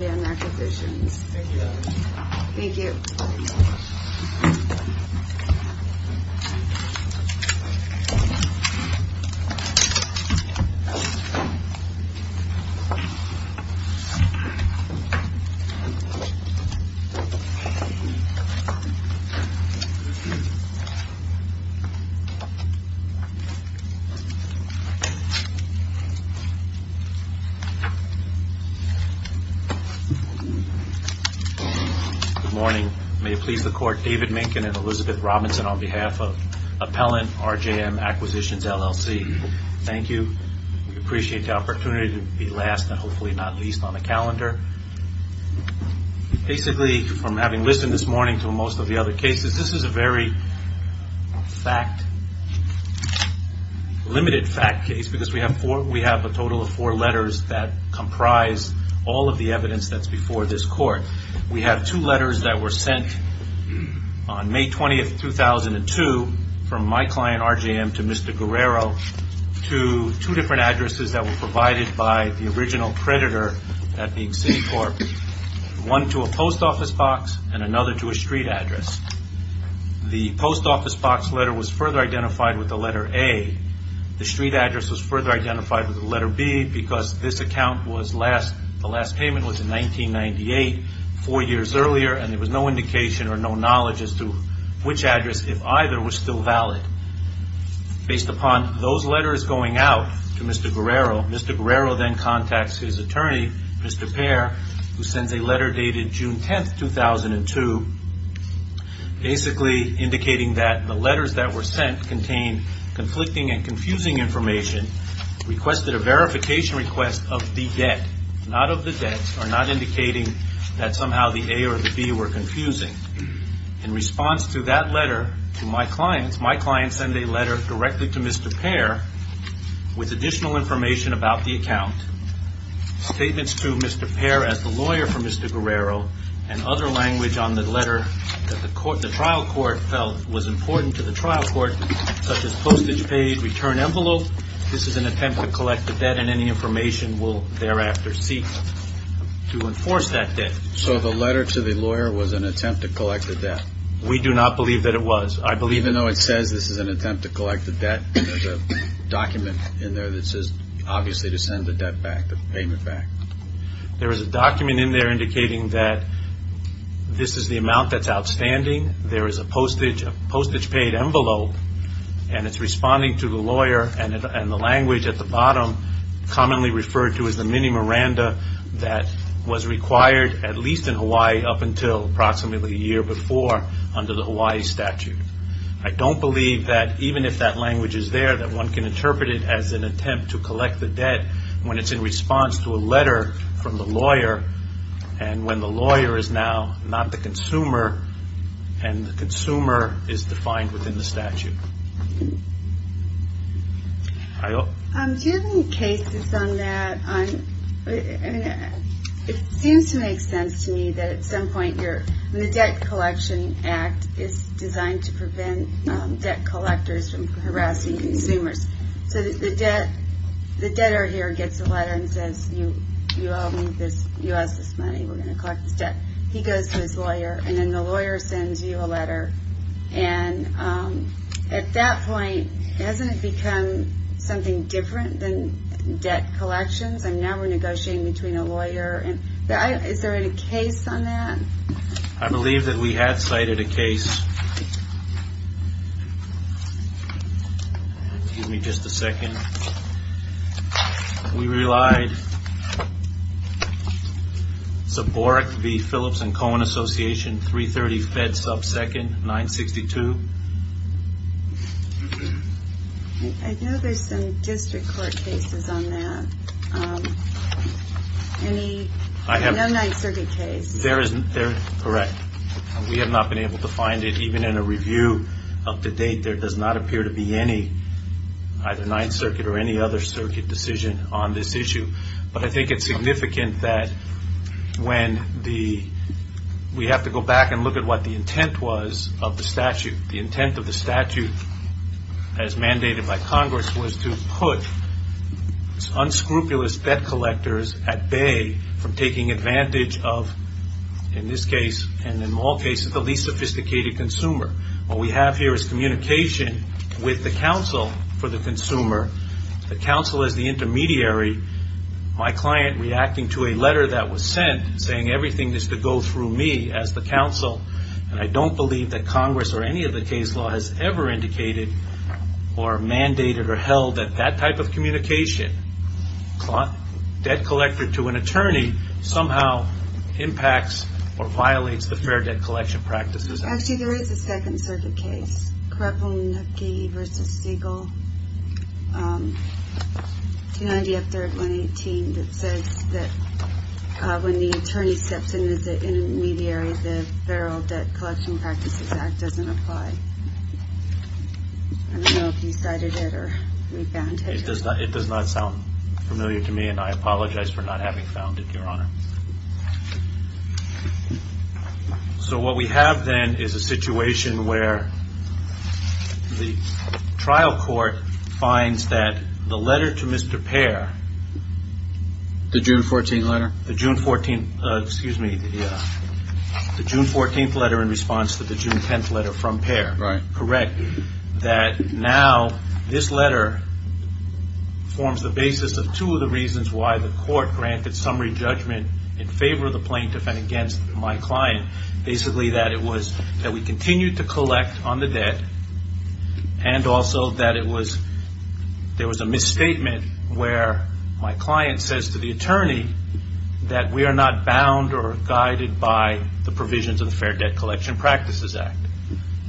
RJM Acquisitions Thank you, Ellen. Thank you. Good morning. May it please the court, David Minkin and Elizabeth Robinson on behalf of Appellant RJM Acquisitions LLC. Thank you. We appreciate the opportunity to be last and hopefully not least on the calendar. Basically from having listened this morning to most of the other cases, this is a very fact, limited fact case because we have a total of four letters that comprise all of the evidence that's before this court. We have two letters that were sent on May 20th, 2002 from my client, RJM, to Mr. Guerrero to two different addresses that were provided by the original creditor at the city court. One to a post office box and another to a street address. The post office box letter was further identified with the letter A. The street address was further identified with the letter B because this account was last, the last payment was in 1998, four years earlier and there was no indication or no knowledge as to which address, if either, was still valid. Based upon those letters going out to Mr. Guerrero, Mr. Guerrero then contacts his attorney, Mr. Pair, who sends a letter dated June 10th, 2002, basically indicating that the letters that were sent contained conflicting and confusing information, requested a verification request of the debt, not of the debts, or not indicating that somehow the A or the B were confusing. In response to that letter to my clients, my clients send a letter directly to Mr. Pair with additional information about the account, statements to Mr. Pair as the lawyer for Mr. Guerrero and other language on the letter that the trial court felt was important to the trial court, such as postage paid, return envelope, this is an attempt to collect the debt and any information will thereafter seek to enforce that debt. So the letter to the lawyer was an attempt to collect the debt? We do not believe that it was. I believe... Even though it says this is an attempt to collect the debt, there's a document in there that says obviously to send the debt back, the payment back. There is a document in there indicating that this is the amount that's outstanding, there is a postage paid envelope and it's responding to the lawyer and the language at the bottom commonly referred to as the mini Miranda that was required at least in Hawaii up until approximately a year before under the Hawaii statute. I don't believe that even if that language is there that one can interpret it as an attempt to collect the debt when it's in response to a letter from the lawyer and when the lawyer is now not the consumer and the consumer is defined within the statute. Do you have any cases on that? It seems to make sense to me that at some point the Debt Collection Act is designed to prevent debt collectors from harassing consumers. So the consumer says, you owe me this, you owe us this money, we're going to collect this debt. He goes to his lawyer and then the lawyer sends you a letter and at that point, hasn't it become something different than debt collections and now we're negotiating between a lawyer and... Is there any case on that? I believe that we have cited a case. Give me just a second. We relied on the fact that we have a case on that. Borek v. Phillips and Cohen Association, 330 Fed Sub 2nd, 962. I know there's some district court cases on that. No Ninth Circuit case. They're correct. We have not been able to find it even in a review up to date. There does not appear to be any, either Ninth Circuit or any other circuit decision on this issue. But I think it's significant that when the... We have to go back and look at what the intent was of the statute. The intent of the statute as mandated by Congress was to put unscrupulous debt collectors at bay from taking advantage of, in this case and in all cases, the least sophisticated consumer. What we have here is communication with the counsel for the client reacting to a letter that was sent saying everything is to go through me as the counsel and I don't believe that Congress or any of the case law has ever indicated or mandated or held that that type of communication, debt collector to an attorney, somehow impacts or violates the fair debt collection practices. Actually, there is a Second Circuit case, Krapunov v. Siegel, 290 up there at 118. It says that when the attorney steps in as the intermediary, the Fair Debt Collection Practices Act doesn't apply. I don't know if you cited it or we found it. It does not sound familiar to me and I apologize for not having found it, Your Honor. So what we have then is a situation where the trial court finds that the letter to Mr. Siegel, the June 14th letter in response to the June 10th letter from Pehr, correct, that now this letter forms the basis of two of the reasons why the court granted summary judgment in favor of the plaintiff and against my client. Basically, that it was that we continued to collect on the debt and also that there was a misstatement where my client says to the attorney that we are not bound or guided by the provisions of the Fair Debt Collection Practices Act,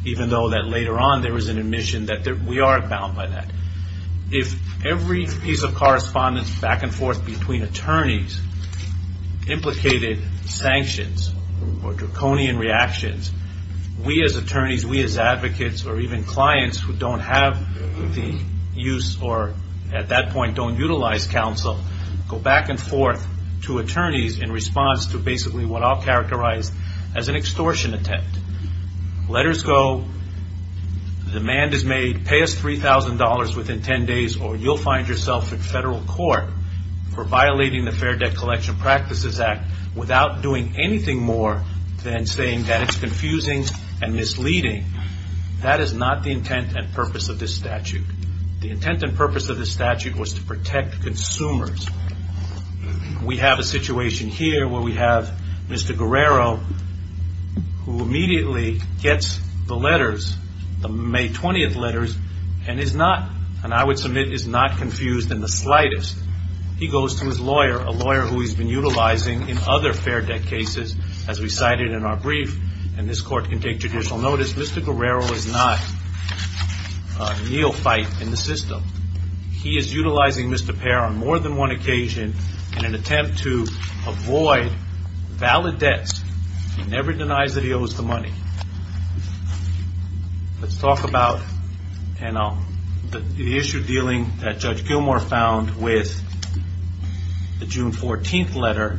even though that later on there was an admission that we are bound by that. If every piece of correspondence back and forth between attorneys implicated sanctions or draconian reactions, we as attorneys, we as advocates or even clients who don't have the use or at that point don't utilize counsel, go back and forth to attorneys in response to basically what I'll characterize as an extortion attempt. Letters go, demand is made, pay us $3,000 within 10 days or you'll find yourself in federal court for violating the Fair Debt Collection Practices Act without doing anything more than saying that it's a statute. The intent and purpose of the statute was to protect consumers. We have a situation here where we have Mr. Guerrero who immediately gets the letters, the May 20th letters, and is not, and I would submit is not confused in the slightest. He goes to his lawyer, a lawyer who he's been utilizing in other fair debt cases as we cited in our legal fight in the system. He is utilizing Mr. Pair on more than one occasion in an attempt to avoid valid debts. He never denies that he owes the money. Let's talk about the issue dealing that Judge Gilmour found with the June 14th letter.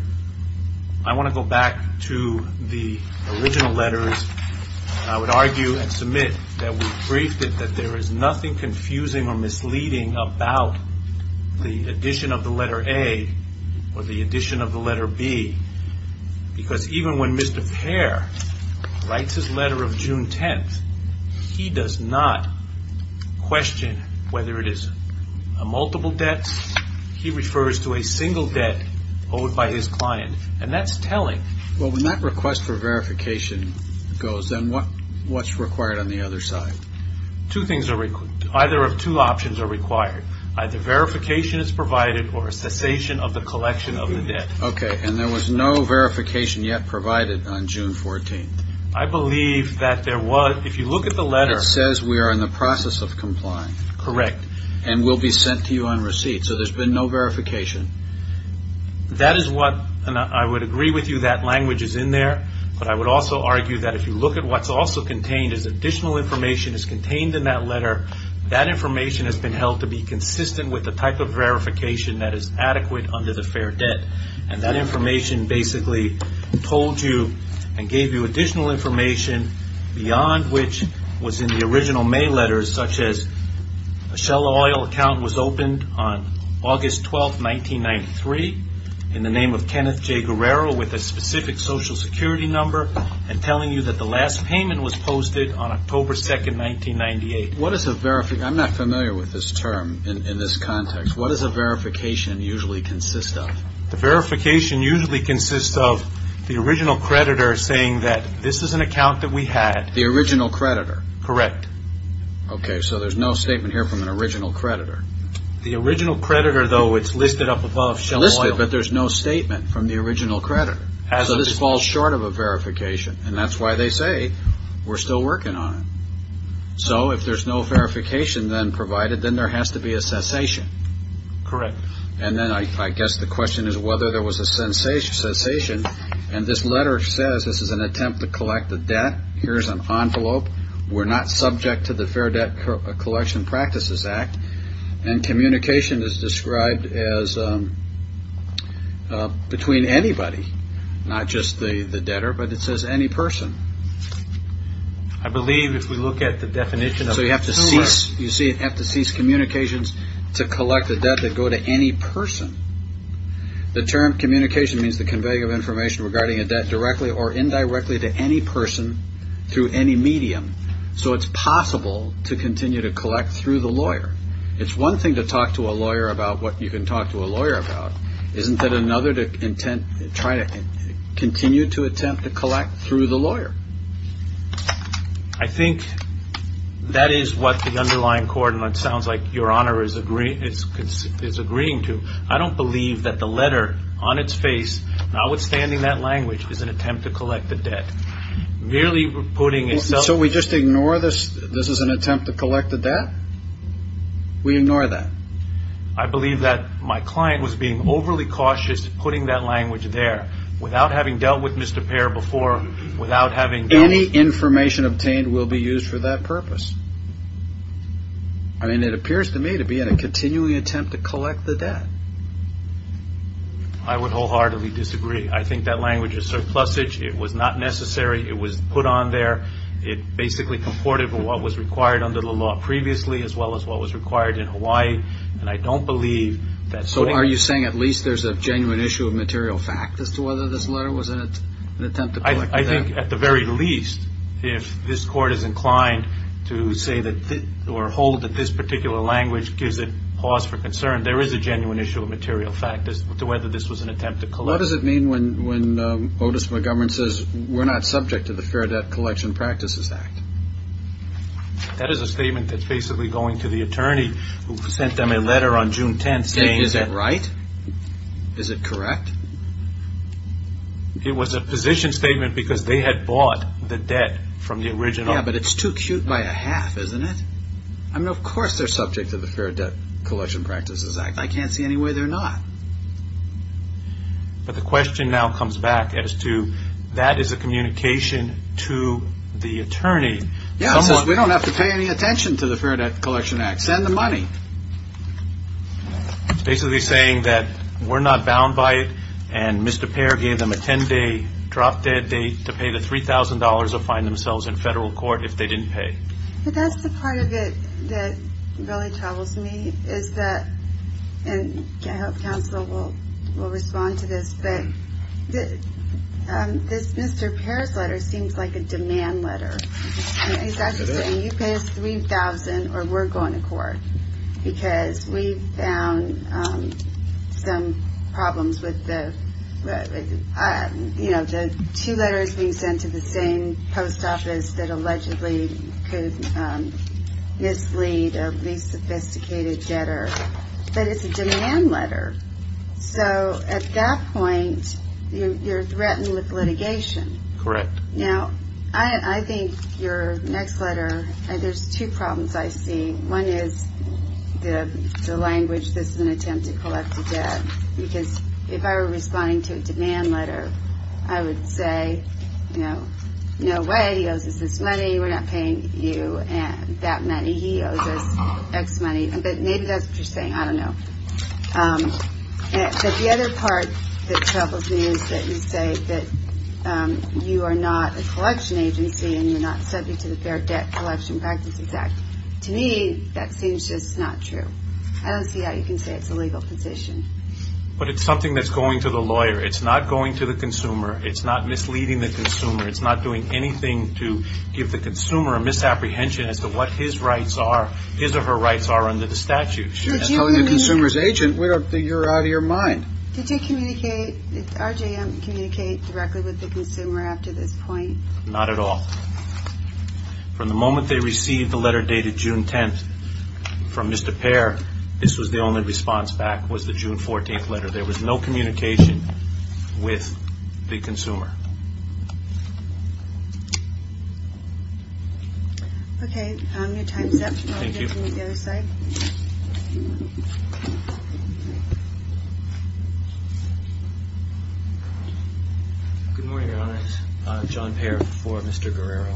I want to go back to the original letters and I would argue and submit that we briefed it that there is nothing confusing or misleading about the addition of the letter A or the addition of the letter B because even when Mr. Pair writes his letter of June 10th, he does not question whether it is a multiple debt. He refers to a single debt owed by his client and that's telling. When that request for verification goes, then what's required on the other side? Two things are required. Either of two options are required. Either verification is provided or a cessation of the collection of the debt. There was no verification yet provided on June 14th. I believe that there was. If you look at the letter. It says we are in the process of complying. Correct. We'll be sent to you on receipt. There's been no verification. I would agree with you that language is in there, but I would also argue that if you look at what's also contained as additional information is contained in that letter, that information has been held to be consistent with the type of verification that is adequate under the fair debt. That information basically told you and gave you additional information beyond which was in the original mail letters such as a Shell Oil account was opened on August 12th, 1993 in the name of Kenneth J. Guerrero with a specific social security number and telling you that the last payment was posted on October 2nd, 1998. What is a verification? I'm not familiar with this term in this context. What does a verification usually consist of? The verification usually consists of the original creditor saying that this is an account that we had. The original creditor. Correct. Okay, so there's no statement here from an original creditor. The original creditor, though, it's listed up above Shell Oil. Listed, but there's no statement from the original creditor. As of this... So this falls short of a verification, and that's why they say we're still working on it. So if there's no verification then provided, then there has to be a cessation. Correct. And then I guess the question is whether there was a cessation, and this letter says this is an attempt to collect the debt. Here's an envelope. We're not subject to the Fair Debt Collection Practices Act, and communication is described as between anybody, not just the debtor, but it says any person. I believe if we look at the definition of the term... So you have to cease communications to collect the debt that go to any person. The term communication means the conveying of information regarding a debt directly or indirectly to any person through any medium. So it's possible to continue to collect through the lawyer. It's one thing to talk to a lawyer about what you can talk to a lawyer about. Isn't it another to continue to attempt to collect through the lawyer? I think that is what the underlying court, and it sounds like Your Honor is agreeing to, I don't believe that the letter on its face, notwithstanding that language, is an attempt to collect the debt. So we just ignore this as an attempt to collect the debt? We ignore that? I believe that my client was being overly cautious putting that language there. Without having dealt with Mr. Pair before, without having dealt with... Any information obtained will be used for that purpose. I mean, it appears to me to be a continuing attempt to collect the debt. I would wholeheartedly disagree. I think that language is surplusage. It was not necessary. It was put on there. It basically comported with what was required under the law previously as well as what was required in Hawaii. And I don't believe that... So are you saying at least there's a genuine issue of material fact as to whether this letter was an attempt to collect the debt? I think at the very least, if this court is inclined to say that or hold that this particular language gives it cause for concern, there is a genuine issue of material fact as to whether this was an attempt to collect... What does it mean when Otis McGovern says, we're not subject to the Fair Debt Collection Practices Act? That is a statement that's basically going to the attorney who sent them a letter on June 10th saying... Is it right? Is it correct? It was a position statement because they had bought the debt from the original... Yeah, but it's too cute by a half, isn't it? I mean, of course they're subject to the Fair Debt Collection Practices Act. I can't see any way they're not. But the question now comes back as to, that is a communication to the attorney. Yes, we don't have to pay any attention to the Fair Debt Collection Act. Send the money. It's basically saying that we're not bound by it and Mr. Payer gave them a 10-day drop-dead date to pay the $3,000 or find themselves in federal court if they didn't pay. But that's the part of it that really troubles me is that, and I hope counsel will respond to this, but this Mr. Payer's letter seems like a demand letter. He's actually saying, you pay us $3,000 or we're going to court because we found some problems with the two letters. This letter is being sent to the same post office that allegedly could mislead a least sophisticated debtor, but it's a demand letter. So at that point, you're threatened with litigation. Correct. Now, I think your next letter, there's two problems I see. One is the language, this is an attempt to collect the debt, because if I were responding to a demand letter, I would say, no way, he owes us this money, we're not paying you that money, he owes us X money. But maybe that's what you're saying, I don't know. But the other part that troubles me is that you say that you are not a collection agency and you're not subject to the Fair Debt Collection Practices Act. To me, that seems just not true. I don't see how you can say it's a legal position. But it's something that's going to the lawyer, it's not going to the consumer, it's not misleading the consumer, it's not doing anything to give the consumer a misapprehension as to what his rights are, his or her rights are under the statute. You're telling the consumer's agent, you're out of your mind. Did RJM communicate directly with the consumer after this point? Not at all. From the moment they received the letter dated June 10th, from Mr. Pair, this was the only response back, was the June 14th letter. There was no communication with the consumer. Okay, your time is up. I'll hand it to you on the other side. Good morning, Your Honor. John Pair for Mr. Guerrero.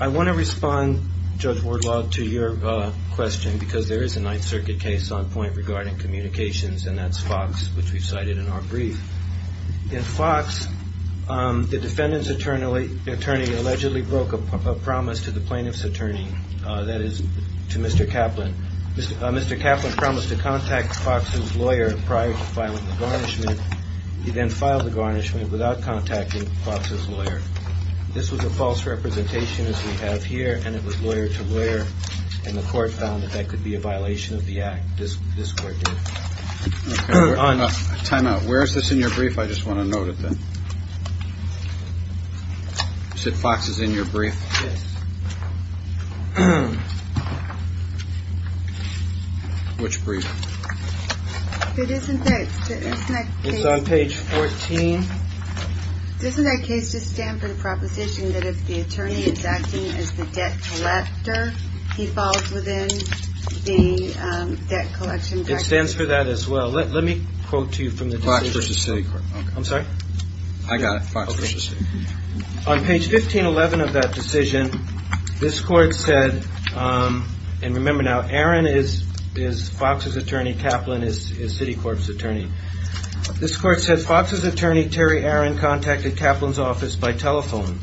I want to respond, Judge Wardlaw, to your question, because there is a Ninth Circuit case on point regarding communications, and that's Fox, which we cited in our brief. In Fox, the defendant's attorney allegedly broke a promise to the plaintiff's attorney, that is, to Mr. Kaplan. Mr. Kaplan promised to contact Fox's lawyer prior to filing the garnishment. He then filed the garnishment without contacting Fox's lawyer. This was a false representation, as we have here, and it was lawyer-to-lawyer, and the court found that that could be a violation of the act. This court did. Time out. Where is this in your brief? I just want to note it then. You said Fox is in your brief? Yes. Which brief? It's on page 14. Doesn't that case just stand for the proposition that if the attorney is acting as the debt collector, he falls within the debt collection directive? It stands for that as well. Let me quote to you from the decision. Fox v. Citicorp. I'm sorry? I got it. Fox v. Citicorp. On page 1511 of that decision, this court said, and remember now, Aaron is Fox's attorney, Kaplan is Citicorp's attorney. This court said Fox's attorney, Terry Aaron, contacted Kaplan's office by telephone.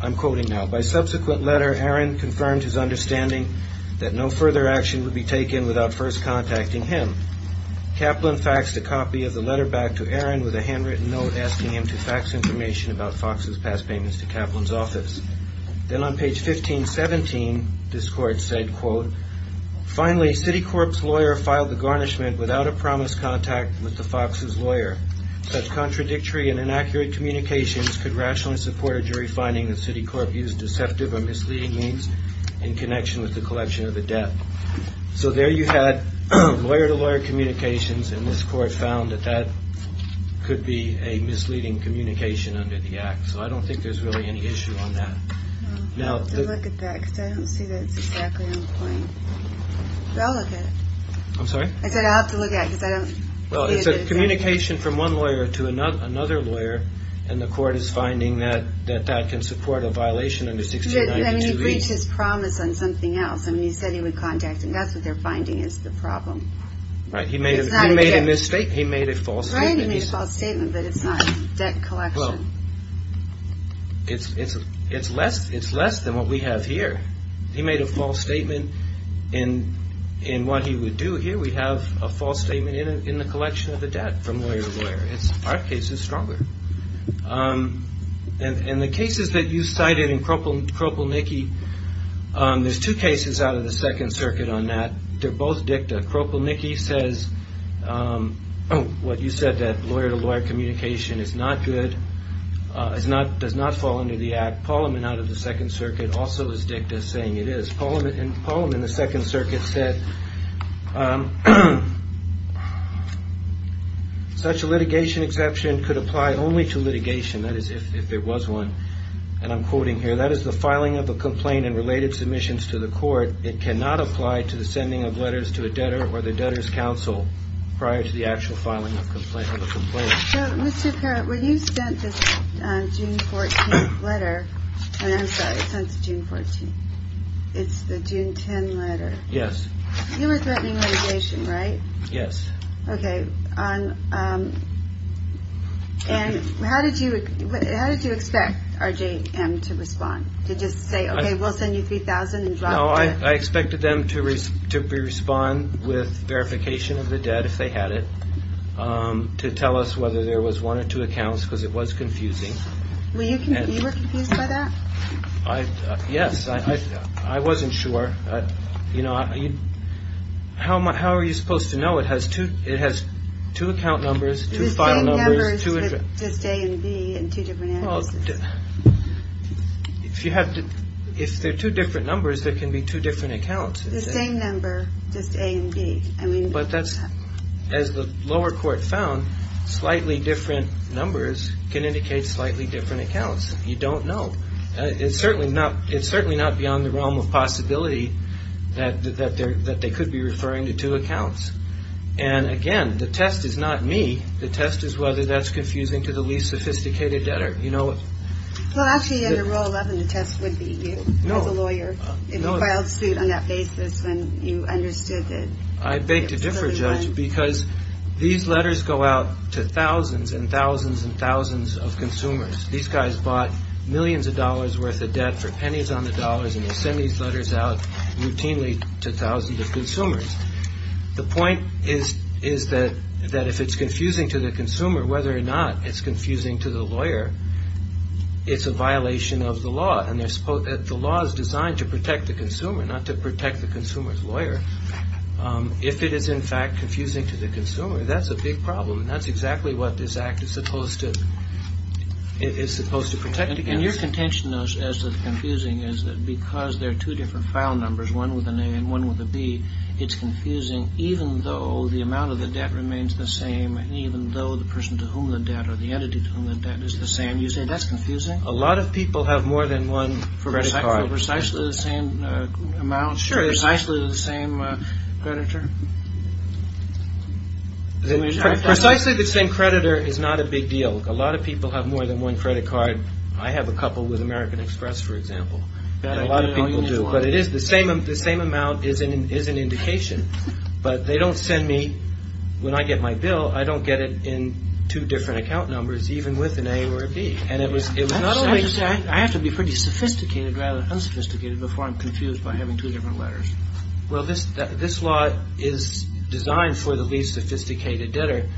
I'm quoting now. By subsequent letter, Aaron confirmed his understanding that no further action would be taken without first contacting him. Kaplan faxed a copy of the letter back to Aaron with a handwritten note asking him to fax information about Fox's past payments to Kaplan's office. Then on page 1517, this court said, quote, Finally, Citicorp's lawyer filed the garnishment without a promised contact with the Fox's lawyer. Such contradictory and inaccurate communications could rationally support a jury finding that Citicorp used deceptive or misleading means in connection with the collection of the debt. So there you had lawyer-to-lawyer communications and this court found that that could be a misleading communication under the act. So I don't think there's really any issue on that. I'll have to look at that because I don't see that it's exactly on point. I'll look at it. I'm sorry? I said I'll have to look at it because I don't see it. Well, it's a communication from one lawyer to another lawyer and the court is finding that that can support a violation under 1692. I mean, he breached his promise on something else. I mean, he said he would contact him. That's what they're finding is the problem. Right. He made a mistake. He made a false statement. Right, he made a false statement, but it's not debt collection. Well, it's less than what we have here. He made a false statement in what he would do. Here we have a false statement in the collection of the debt from lawyer-to-lawyer. Our case is stronger. And the cases that you cited in Kropelniki, there's two cases out of the Second Circuit on that. They're both dicta. Kropelniki says what you said, that does not fall under the Act. Paulman out of the Second Circuit also is dicta, saying it is. Paulman in the Second Circuit said such a litigation exception could apply only to litigation, that is, if there was one. And I'm quoting here, that is the filing of a complaint and related submissions to the court. It cannot apply to the sending of letters to a debtor or the debtor's counsel prior to the actual filing of a complaint. So, Mr. Parrott, when you sent this June 14th letter, and I'm sorry, it's not the June 14th, it's the June 10th letter. Yes. You were threatening litigation, right? Yes. Okay. And how did you expect RJM to respond? To just say, okay, we'll send you $3,000 and drop the debt? No, I expected them to respond with verification of the debt if they had it, to tell us whether there was one or two accounts, because it was confusing. You were confused by that? Yes. I wasn't sure. How are you supposed to know? It has two account numbers, two file numbers. It's the same numbers, just A and B in two different addresses. If they're two different numbers, there can be two different accounts. The same number, just A and B. As the lower court found, slightly different numbers can indicate slightly different accounts. You don't know. It's certainly not beyond the realm of possibility that they could be referring to two accounts. And again, the test is not me. The test is whether that's confusing to the least sophisticated debtor. Well, actually, under Rule 11, the test would be you, as a lawyer, if you filed suit on that basis when you understood that there was only one. I beg to differ, Judge, because these letters go out to thousands and thousands and thousands of consumers. These guys bought millions of dollars worth of debt for pennies on the dollars, and they send these letters out routinely to thousands of consumers. The point is that if it's confusing to the consumer, whether or not it's confusing to the lawyer, it's a violation of the law. And the law is designed to protect the consumer, not to protect the consumer's lawyer. If it is, in fact, confusing to the consumer, that's a big problem, and that's exactly what this Act is supposed to protect against. And your contention, as to the confusing, is that because there are two different file numbers, one with an A and one with a B, it's confusing even though the amount of the debt remains the same, even though the person to whom the debt or the entity to whom the debt is the same, you say that's confusing? A lot of people have more than one credit card. For precisely the same amount? Precisely the same creditor? Precisely the same creditor is not a big deal. A lot of people have more than one credit card. I have a couple with American Express, for example, and a lot of people do. The same amount is an indication, but they don't send me, when I get my bill, I don't get it in two different account numbers, even with an A or a B. I have to be pretty sophisticated rather than unsophisticated before I'm confused by having two different letters. This law is designed for the least sophisticated debtor,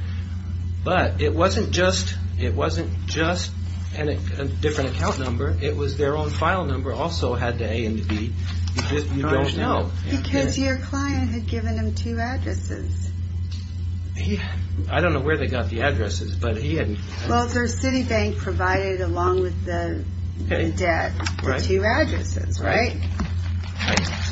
but it wasn't just a different account number, it was their own file number also had the A and the B, you just don't know. Because your client had given them two addresses. I don't know where they got the addresses, but he had... Well, their city bank provided, along with the debt, the two addresses, right?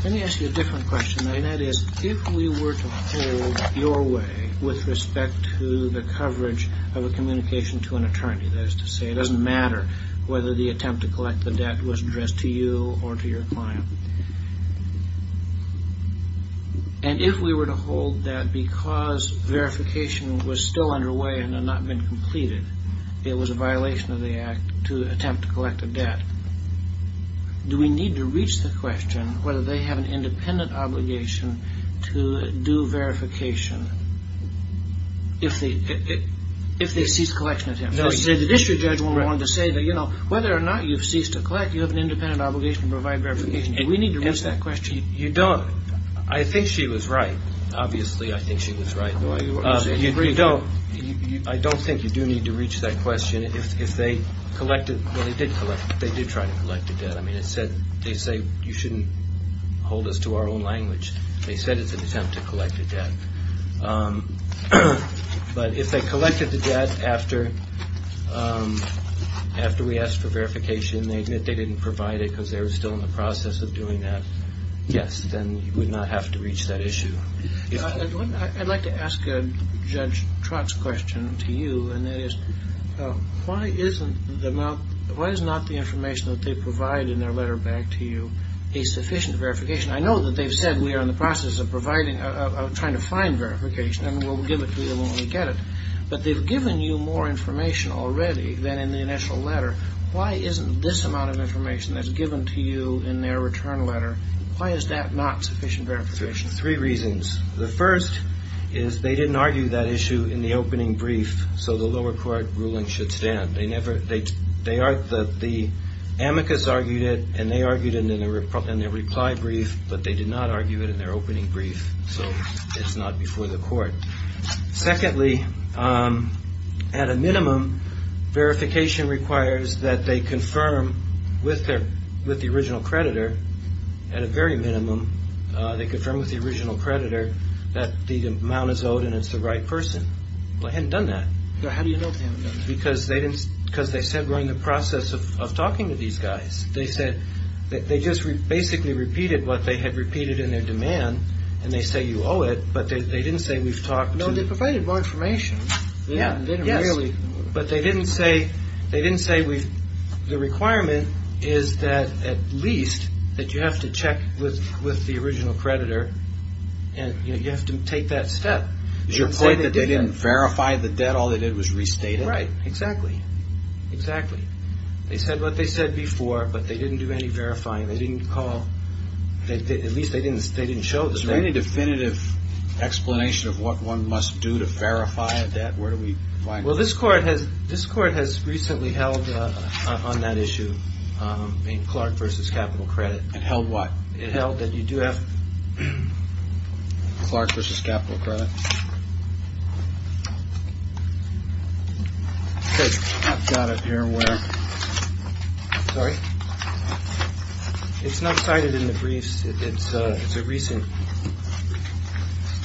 Let me ask you a different question, and that is, if we were to hold your way with respect to the coverage of a communication to an attorney, that is to say, it doesn't matter whether the attempt to collect the debt was addressed to you or to your client. And if we were to hold that because verification was still underway and had not been completed, it was a violation of the act to attempt to collect a debt, do we need to reach the question whether they have an independent obligation to do verification? If they ceased collection attempts. No, you said the district judge wanted to say that, you know, whether or not you've ceased to collect, you have an independent obligation to provide verification. Do we need to reach that question? You don't. I think she was right. Obviously, I think she was right. You don't. I don't think you do need to reach that question. If they collected, well, they did collect, they did try to collect the debt. I mean, it said, they say you shouldn't hold us to our own language. They said it's an attempt to collect the debt. But if they collected the debt after we asked for verification, they admit they didn't provide it because they were still in the process of doing that, yes, then you would not have to reach that issue. I'd like to ask Judge Trott's question to you, and that is, why is not the information that they provide in their letter back to you a sufficient verification? I know that they've said we are in the process of providing, of trying to find verification, and we'll give it to you when we get it. But they've given you more information already than in the initial letter. Why isn't this amount of information that's given to you in their return letter, why is that not sufficient verification? Three reasons. The first is they didn't argue that issue in the opening brief, so the lower court ruling should stand. The amicus argued it, and they argued it in their reply brief, but they did not argue it in their opening brief, so it's not before the court. Secondly, at a minimum, verification requires that they confirm with the original creditor, at a very minimum, they confirm with the original creditor that the amount is owed and it's the right person. They hadn't done that. How do you know they haven't done that? Because they said we're in the process of talking to these guys. They said they just basically repeated what they had repeated in their demand, and they say you owe it, but they didn't say we've talked to you. No, they provided more information. Yes, but they didn't say the requirement is that at least that you have to check with the original creditor, and you have to take that step. Is your point that they didn't verify the debt? All they did was restate it? Right. Exactly. Exactly. They said what they said before, but they didn't do any verifying. They didn't call. At least they didn't show it. Is there any definitive explanation of what one must do to verify a debt? Where do we find that? Well, this court has recently held on that issue in Clark v. Capital Credit. It held what? It held that you do have Clark v. Capital Credit. I've got it here. Sorry. It's not cited in the briefs. It's a recent.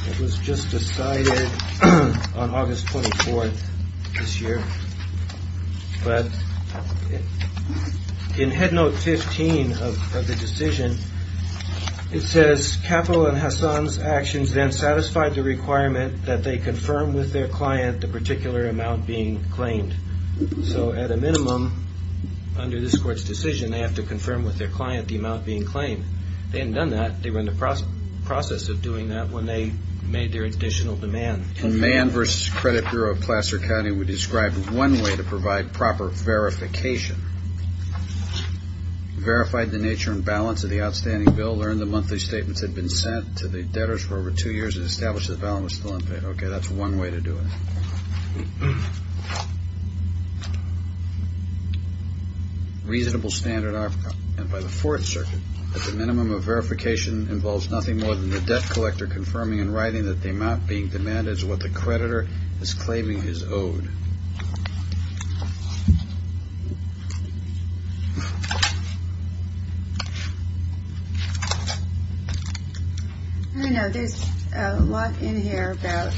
It was just decided on August 24th this year. But in Head Note 15 of the decision, it says, Capital and Hassan's actions then satisfied the requirement that they confirm with their client the particular amount being claimed. So at a minimum, under this court's decision, they have to confirm with their client the amount being claimed. They hadn't done that. They were in the process of doing that when they made their additional demand. In Mann v. Credit Bureau of Placer County, we described one way to provide proper verification. Verified the nature and balance of the outstanding bill, learned the monthly statements had been sent to the debtors for over two years, and established the balance was still unpaid. Okay, that's one way to do it. Reasonable standard offer, and by the Fourth Circuit, that the minimum of verification involves nothing more than the debt collector confirming and writing that the amount being demanded is what the creditor is claiming is owed. I know there's a lot in here about,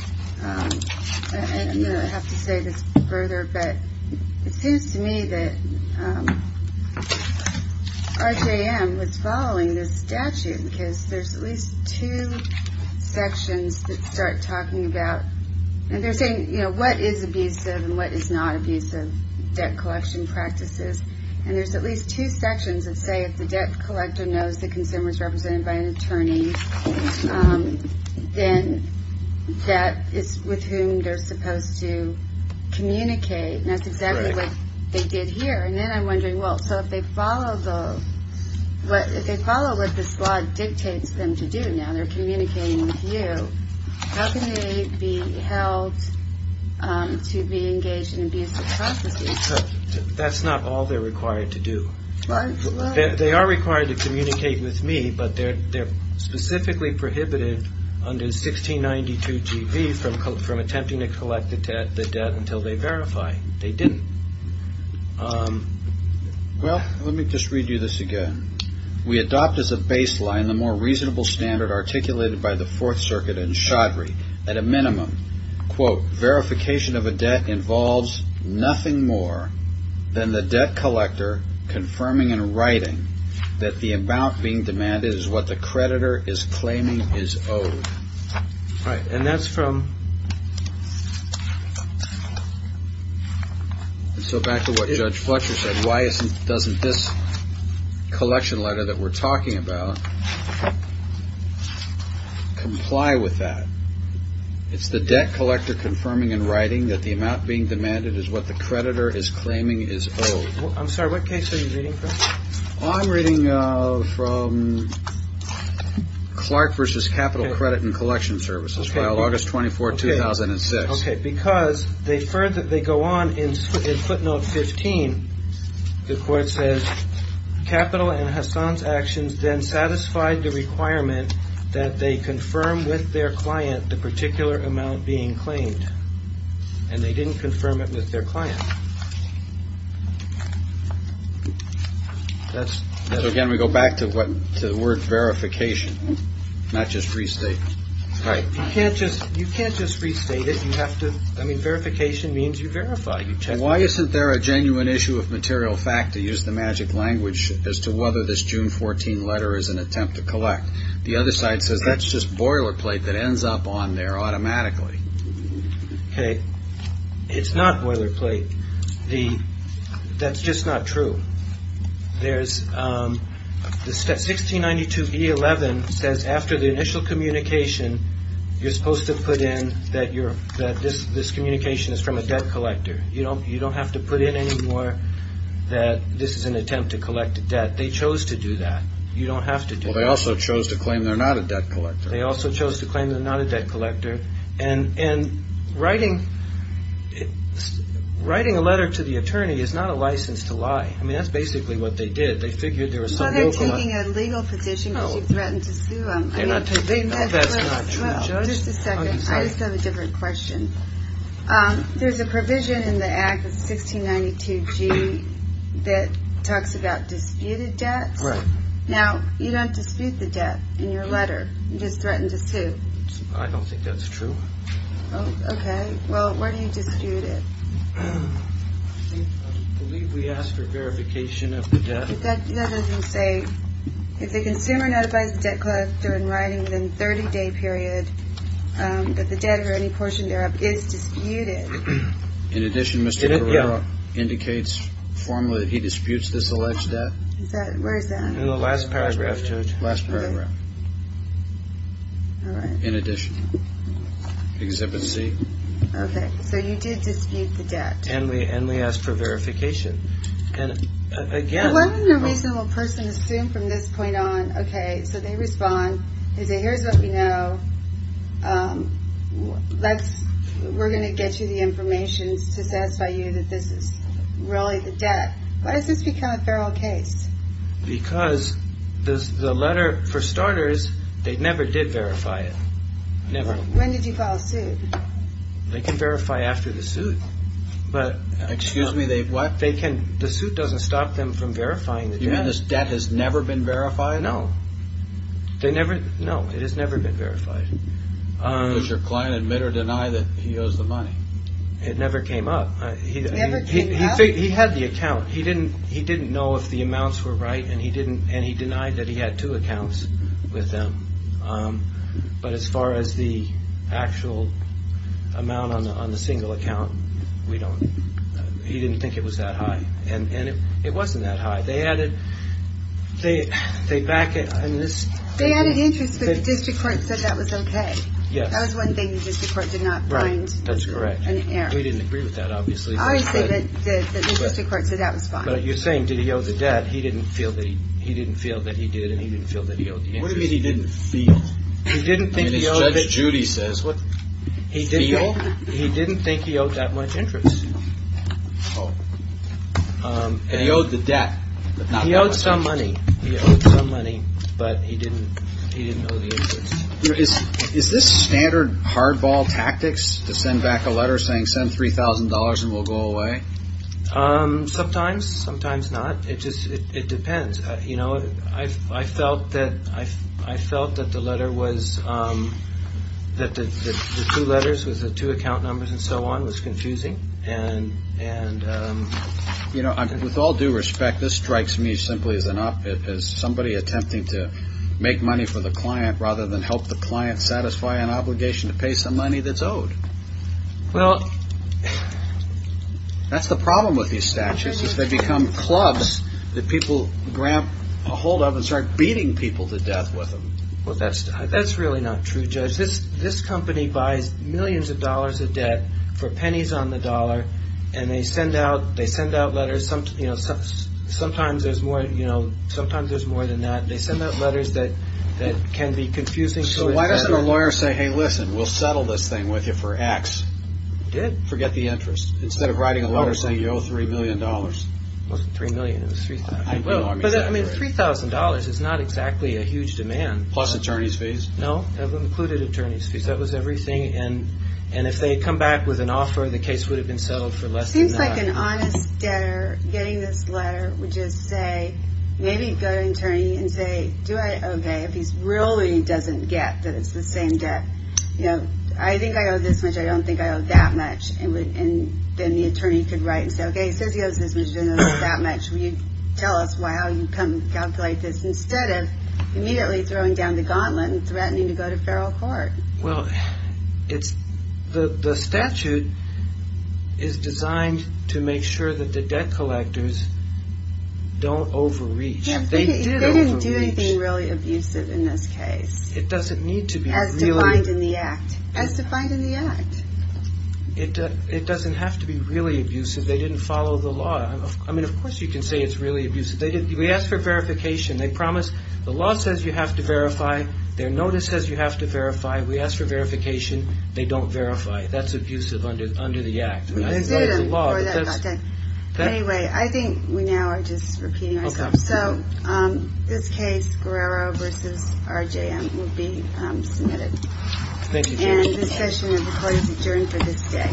you know, I have to say this further, but it seems to me that RJM was following this statute because there's at least two sections that start talking about, and they're saying, you know, what is abusive and what is not abusive debt collection practices. And there's at least two sections that say if the debt collector knows the consumer is represented by an attorney, then that is with whom they're supposed to communicate. And that's exactly what they did here. And then I'm wondering, well, so if they follow what this law dictates them to do now, they're communicating with you, how can they be held to be engaged in abusive processes? That's not all they're required to do. They are required to communicate with me, but they're specifically prohibited under 1692 G.V. from attempting to collect the debt until they verify they didn't. Well, let me just read you this again. We adopt as a baseline the more reasonable standard articulated by the Fourth Circuit and Chaudhry. At a minimum, quote, verification of a debt involves nothing more than the debt collector confirming in writing that the amount being demanded is what the creditor is claiming is owed. All right, and that's from... So back to what Judge Fletcher said, why doesn't this collection letter that we're talking about comply with that? It's the debt collector confirming in writing that the amount being demanded is what the creditor is claiming is owed. I'm sorry, what case are you reading from? I'm reading from Clark v. Capital Credit and Collection Services, file August 24, 2006. Okay, because they go on in footnote 15. The court says, Capital and Hassan's actions then satisfied the requirement that they confirm with their client the particular amount being claimed. And they didn't confirm it with their client. So again, we go back to the word verification, not just restate. Right. You can't just restate it. I mean, verification means you verify. Why isn't there a genuine issue of material fact to use the magic language as to whether this June 14 letter is an attempt to collect? The other side says that's just boilerplate that ends up on there automatically. Okay. It's not boilerplate. That's just not true. There's... 1692e11 says after the initial communication, you're supposed to put in that this communication is from a debt collector. You don't have to put in anymore that this is an attempt to collect a debt. They chose to do that. You don't have to do that. Well, they also chose to claim they're not a debt collector. They also chose to claim they're not a debt collector. And writing a letter to the attorney is not a license to lie. I mean, that's basically what they did. They figured there was some... You're not taking a legal position because you threatened to sue them. That's not true, Judge. Just a second. I just have a different question. There's a provision in the Act of 1692g that talks about disputed debts. Right. Now, you don't dispute the debt in your letter. You just threatened to sue. I don't think that's true. Okay. Well, where do you dispute it? I believe we asked for verification of the debt. That doesn't say. If the consumer notifies the debt collector in writing within a 30-day period that the debt or any portion thereof is disputed... In addition, Mr. Carrillo indicates formally that he disputes this alleged debt. Where is that? In the last paragraph, Judge. Last paragraph. All right. In addition. Exhibit C. Okay. So you did dispute the debt. And we asked for verification. And, again... But what would a reasonable person assume from this point on? Okay, so they respond. They say, here's what we know. We're going to get you the information to satisfy you that this is really the debt. Why does this become a feral case? Because the letter, for starters, they never did verify it. Never. When did you file a suit? They can verify after the suit. Excuse me, they what? The suit doesn't stop them from verifying the debt. You mean this debt has never been verified? No. No, it has never been verified. Does your client admit or deny that he owes the money? It never came up. It never came up? He had the account. He didn't know if the amounts were right, and he denied that he had two accounts with them. But as far as the actual amount on the single account, he didn't think it was that high. And it wasn't that high. They added interest, but the district court said that was okay. Yes. That was one thing the district court did not find an error. That's correct. We didn't agree with that, obviously. The district court said that was fine. But you're saying, did he owe the debt? He didn't feel that he did, and he didn't feel that he owed the interest. What do you mean he didn't feel? He didn't think he owed it. Judge Judy says, feel? He didn't think he owed that much interest. Oh. And he owed the debt. He owed some money. He owed some money, but he didn't owe the interest. Is this standard hardball tactics to send back a letter saying, send $3,000 and we'll go away? Sometimes, sometimes not. It depends. I felt that the letter was, that the two letters with the two account numbers and so on was confusing. With all due respect, this strikes me simply as an op-ed. It's confusing to make money for the client rather than help the client satisfy an obligation to pay some money that's owed. Well. That's the problem with these statutes, is they become clubs that people grab a hold of and start beating people to death with them. Well, that's really not true, Judge. This company buys millions of dollars of debt for pennies on the dollar, and they send out letters. Sometimes there's more than that. They send out letters that can be confusing. So why doesn't a lawyer say, hey, listen, we'll settle this thing with you for X. They did. Forget the interest. Instead of writing a letter saying you owe $3 million. It wasn't $3 million, it was $3,000. I mean, $3,000 is not exactly a huge demand. Plus attorney's fees. No, it included attorney's fees. That was everything. And if they had come back with an offer, the case would have been settled for less than that. It seems like an honest debtor getting this letter would just say, maybe go to an attorney and say, okay, if he really doesn't get that it's the same debt. You know, I think I owe this much, I don't think I owe that much. And then the attorney could write and say, okay, he says he owes this much, he doesn't owe that much. Will you tell us how you come to calculate this instead of immediately throwing down the gauntlet and threatening to go to feral court? Well, the statute is designed to make sure that the debt collectors don't overreach. They did overreach. They didn't do anything really abusive in this case. It doesn't need to be really. As defined in the act. As defined in the act. It doesn't have to be really abusive. They didn't follow the law. We asked for verification. They promised, the law says you have to verify. Their notice says you have to verify. We asked for verification. They don't verify. That's abusive under the act. We did them before that got done. Anyway, I think we now are just repeating ourselves. Okay. So, this case, Guerrero v. RJM, will be submitted. Thank you, Judge. And this session of the court is adjourned for this day.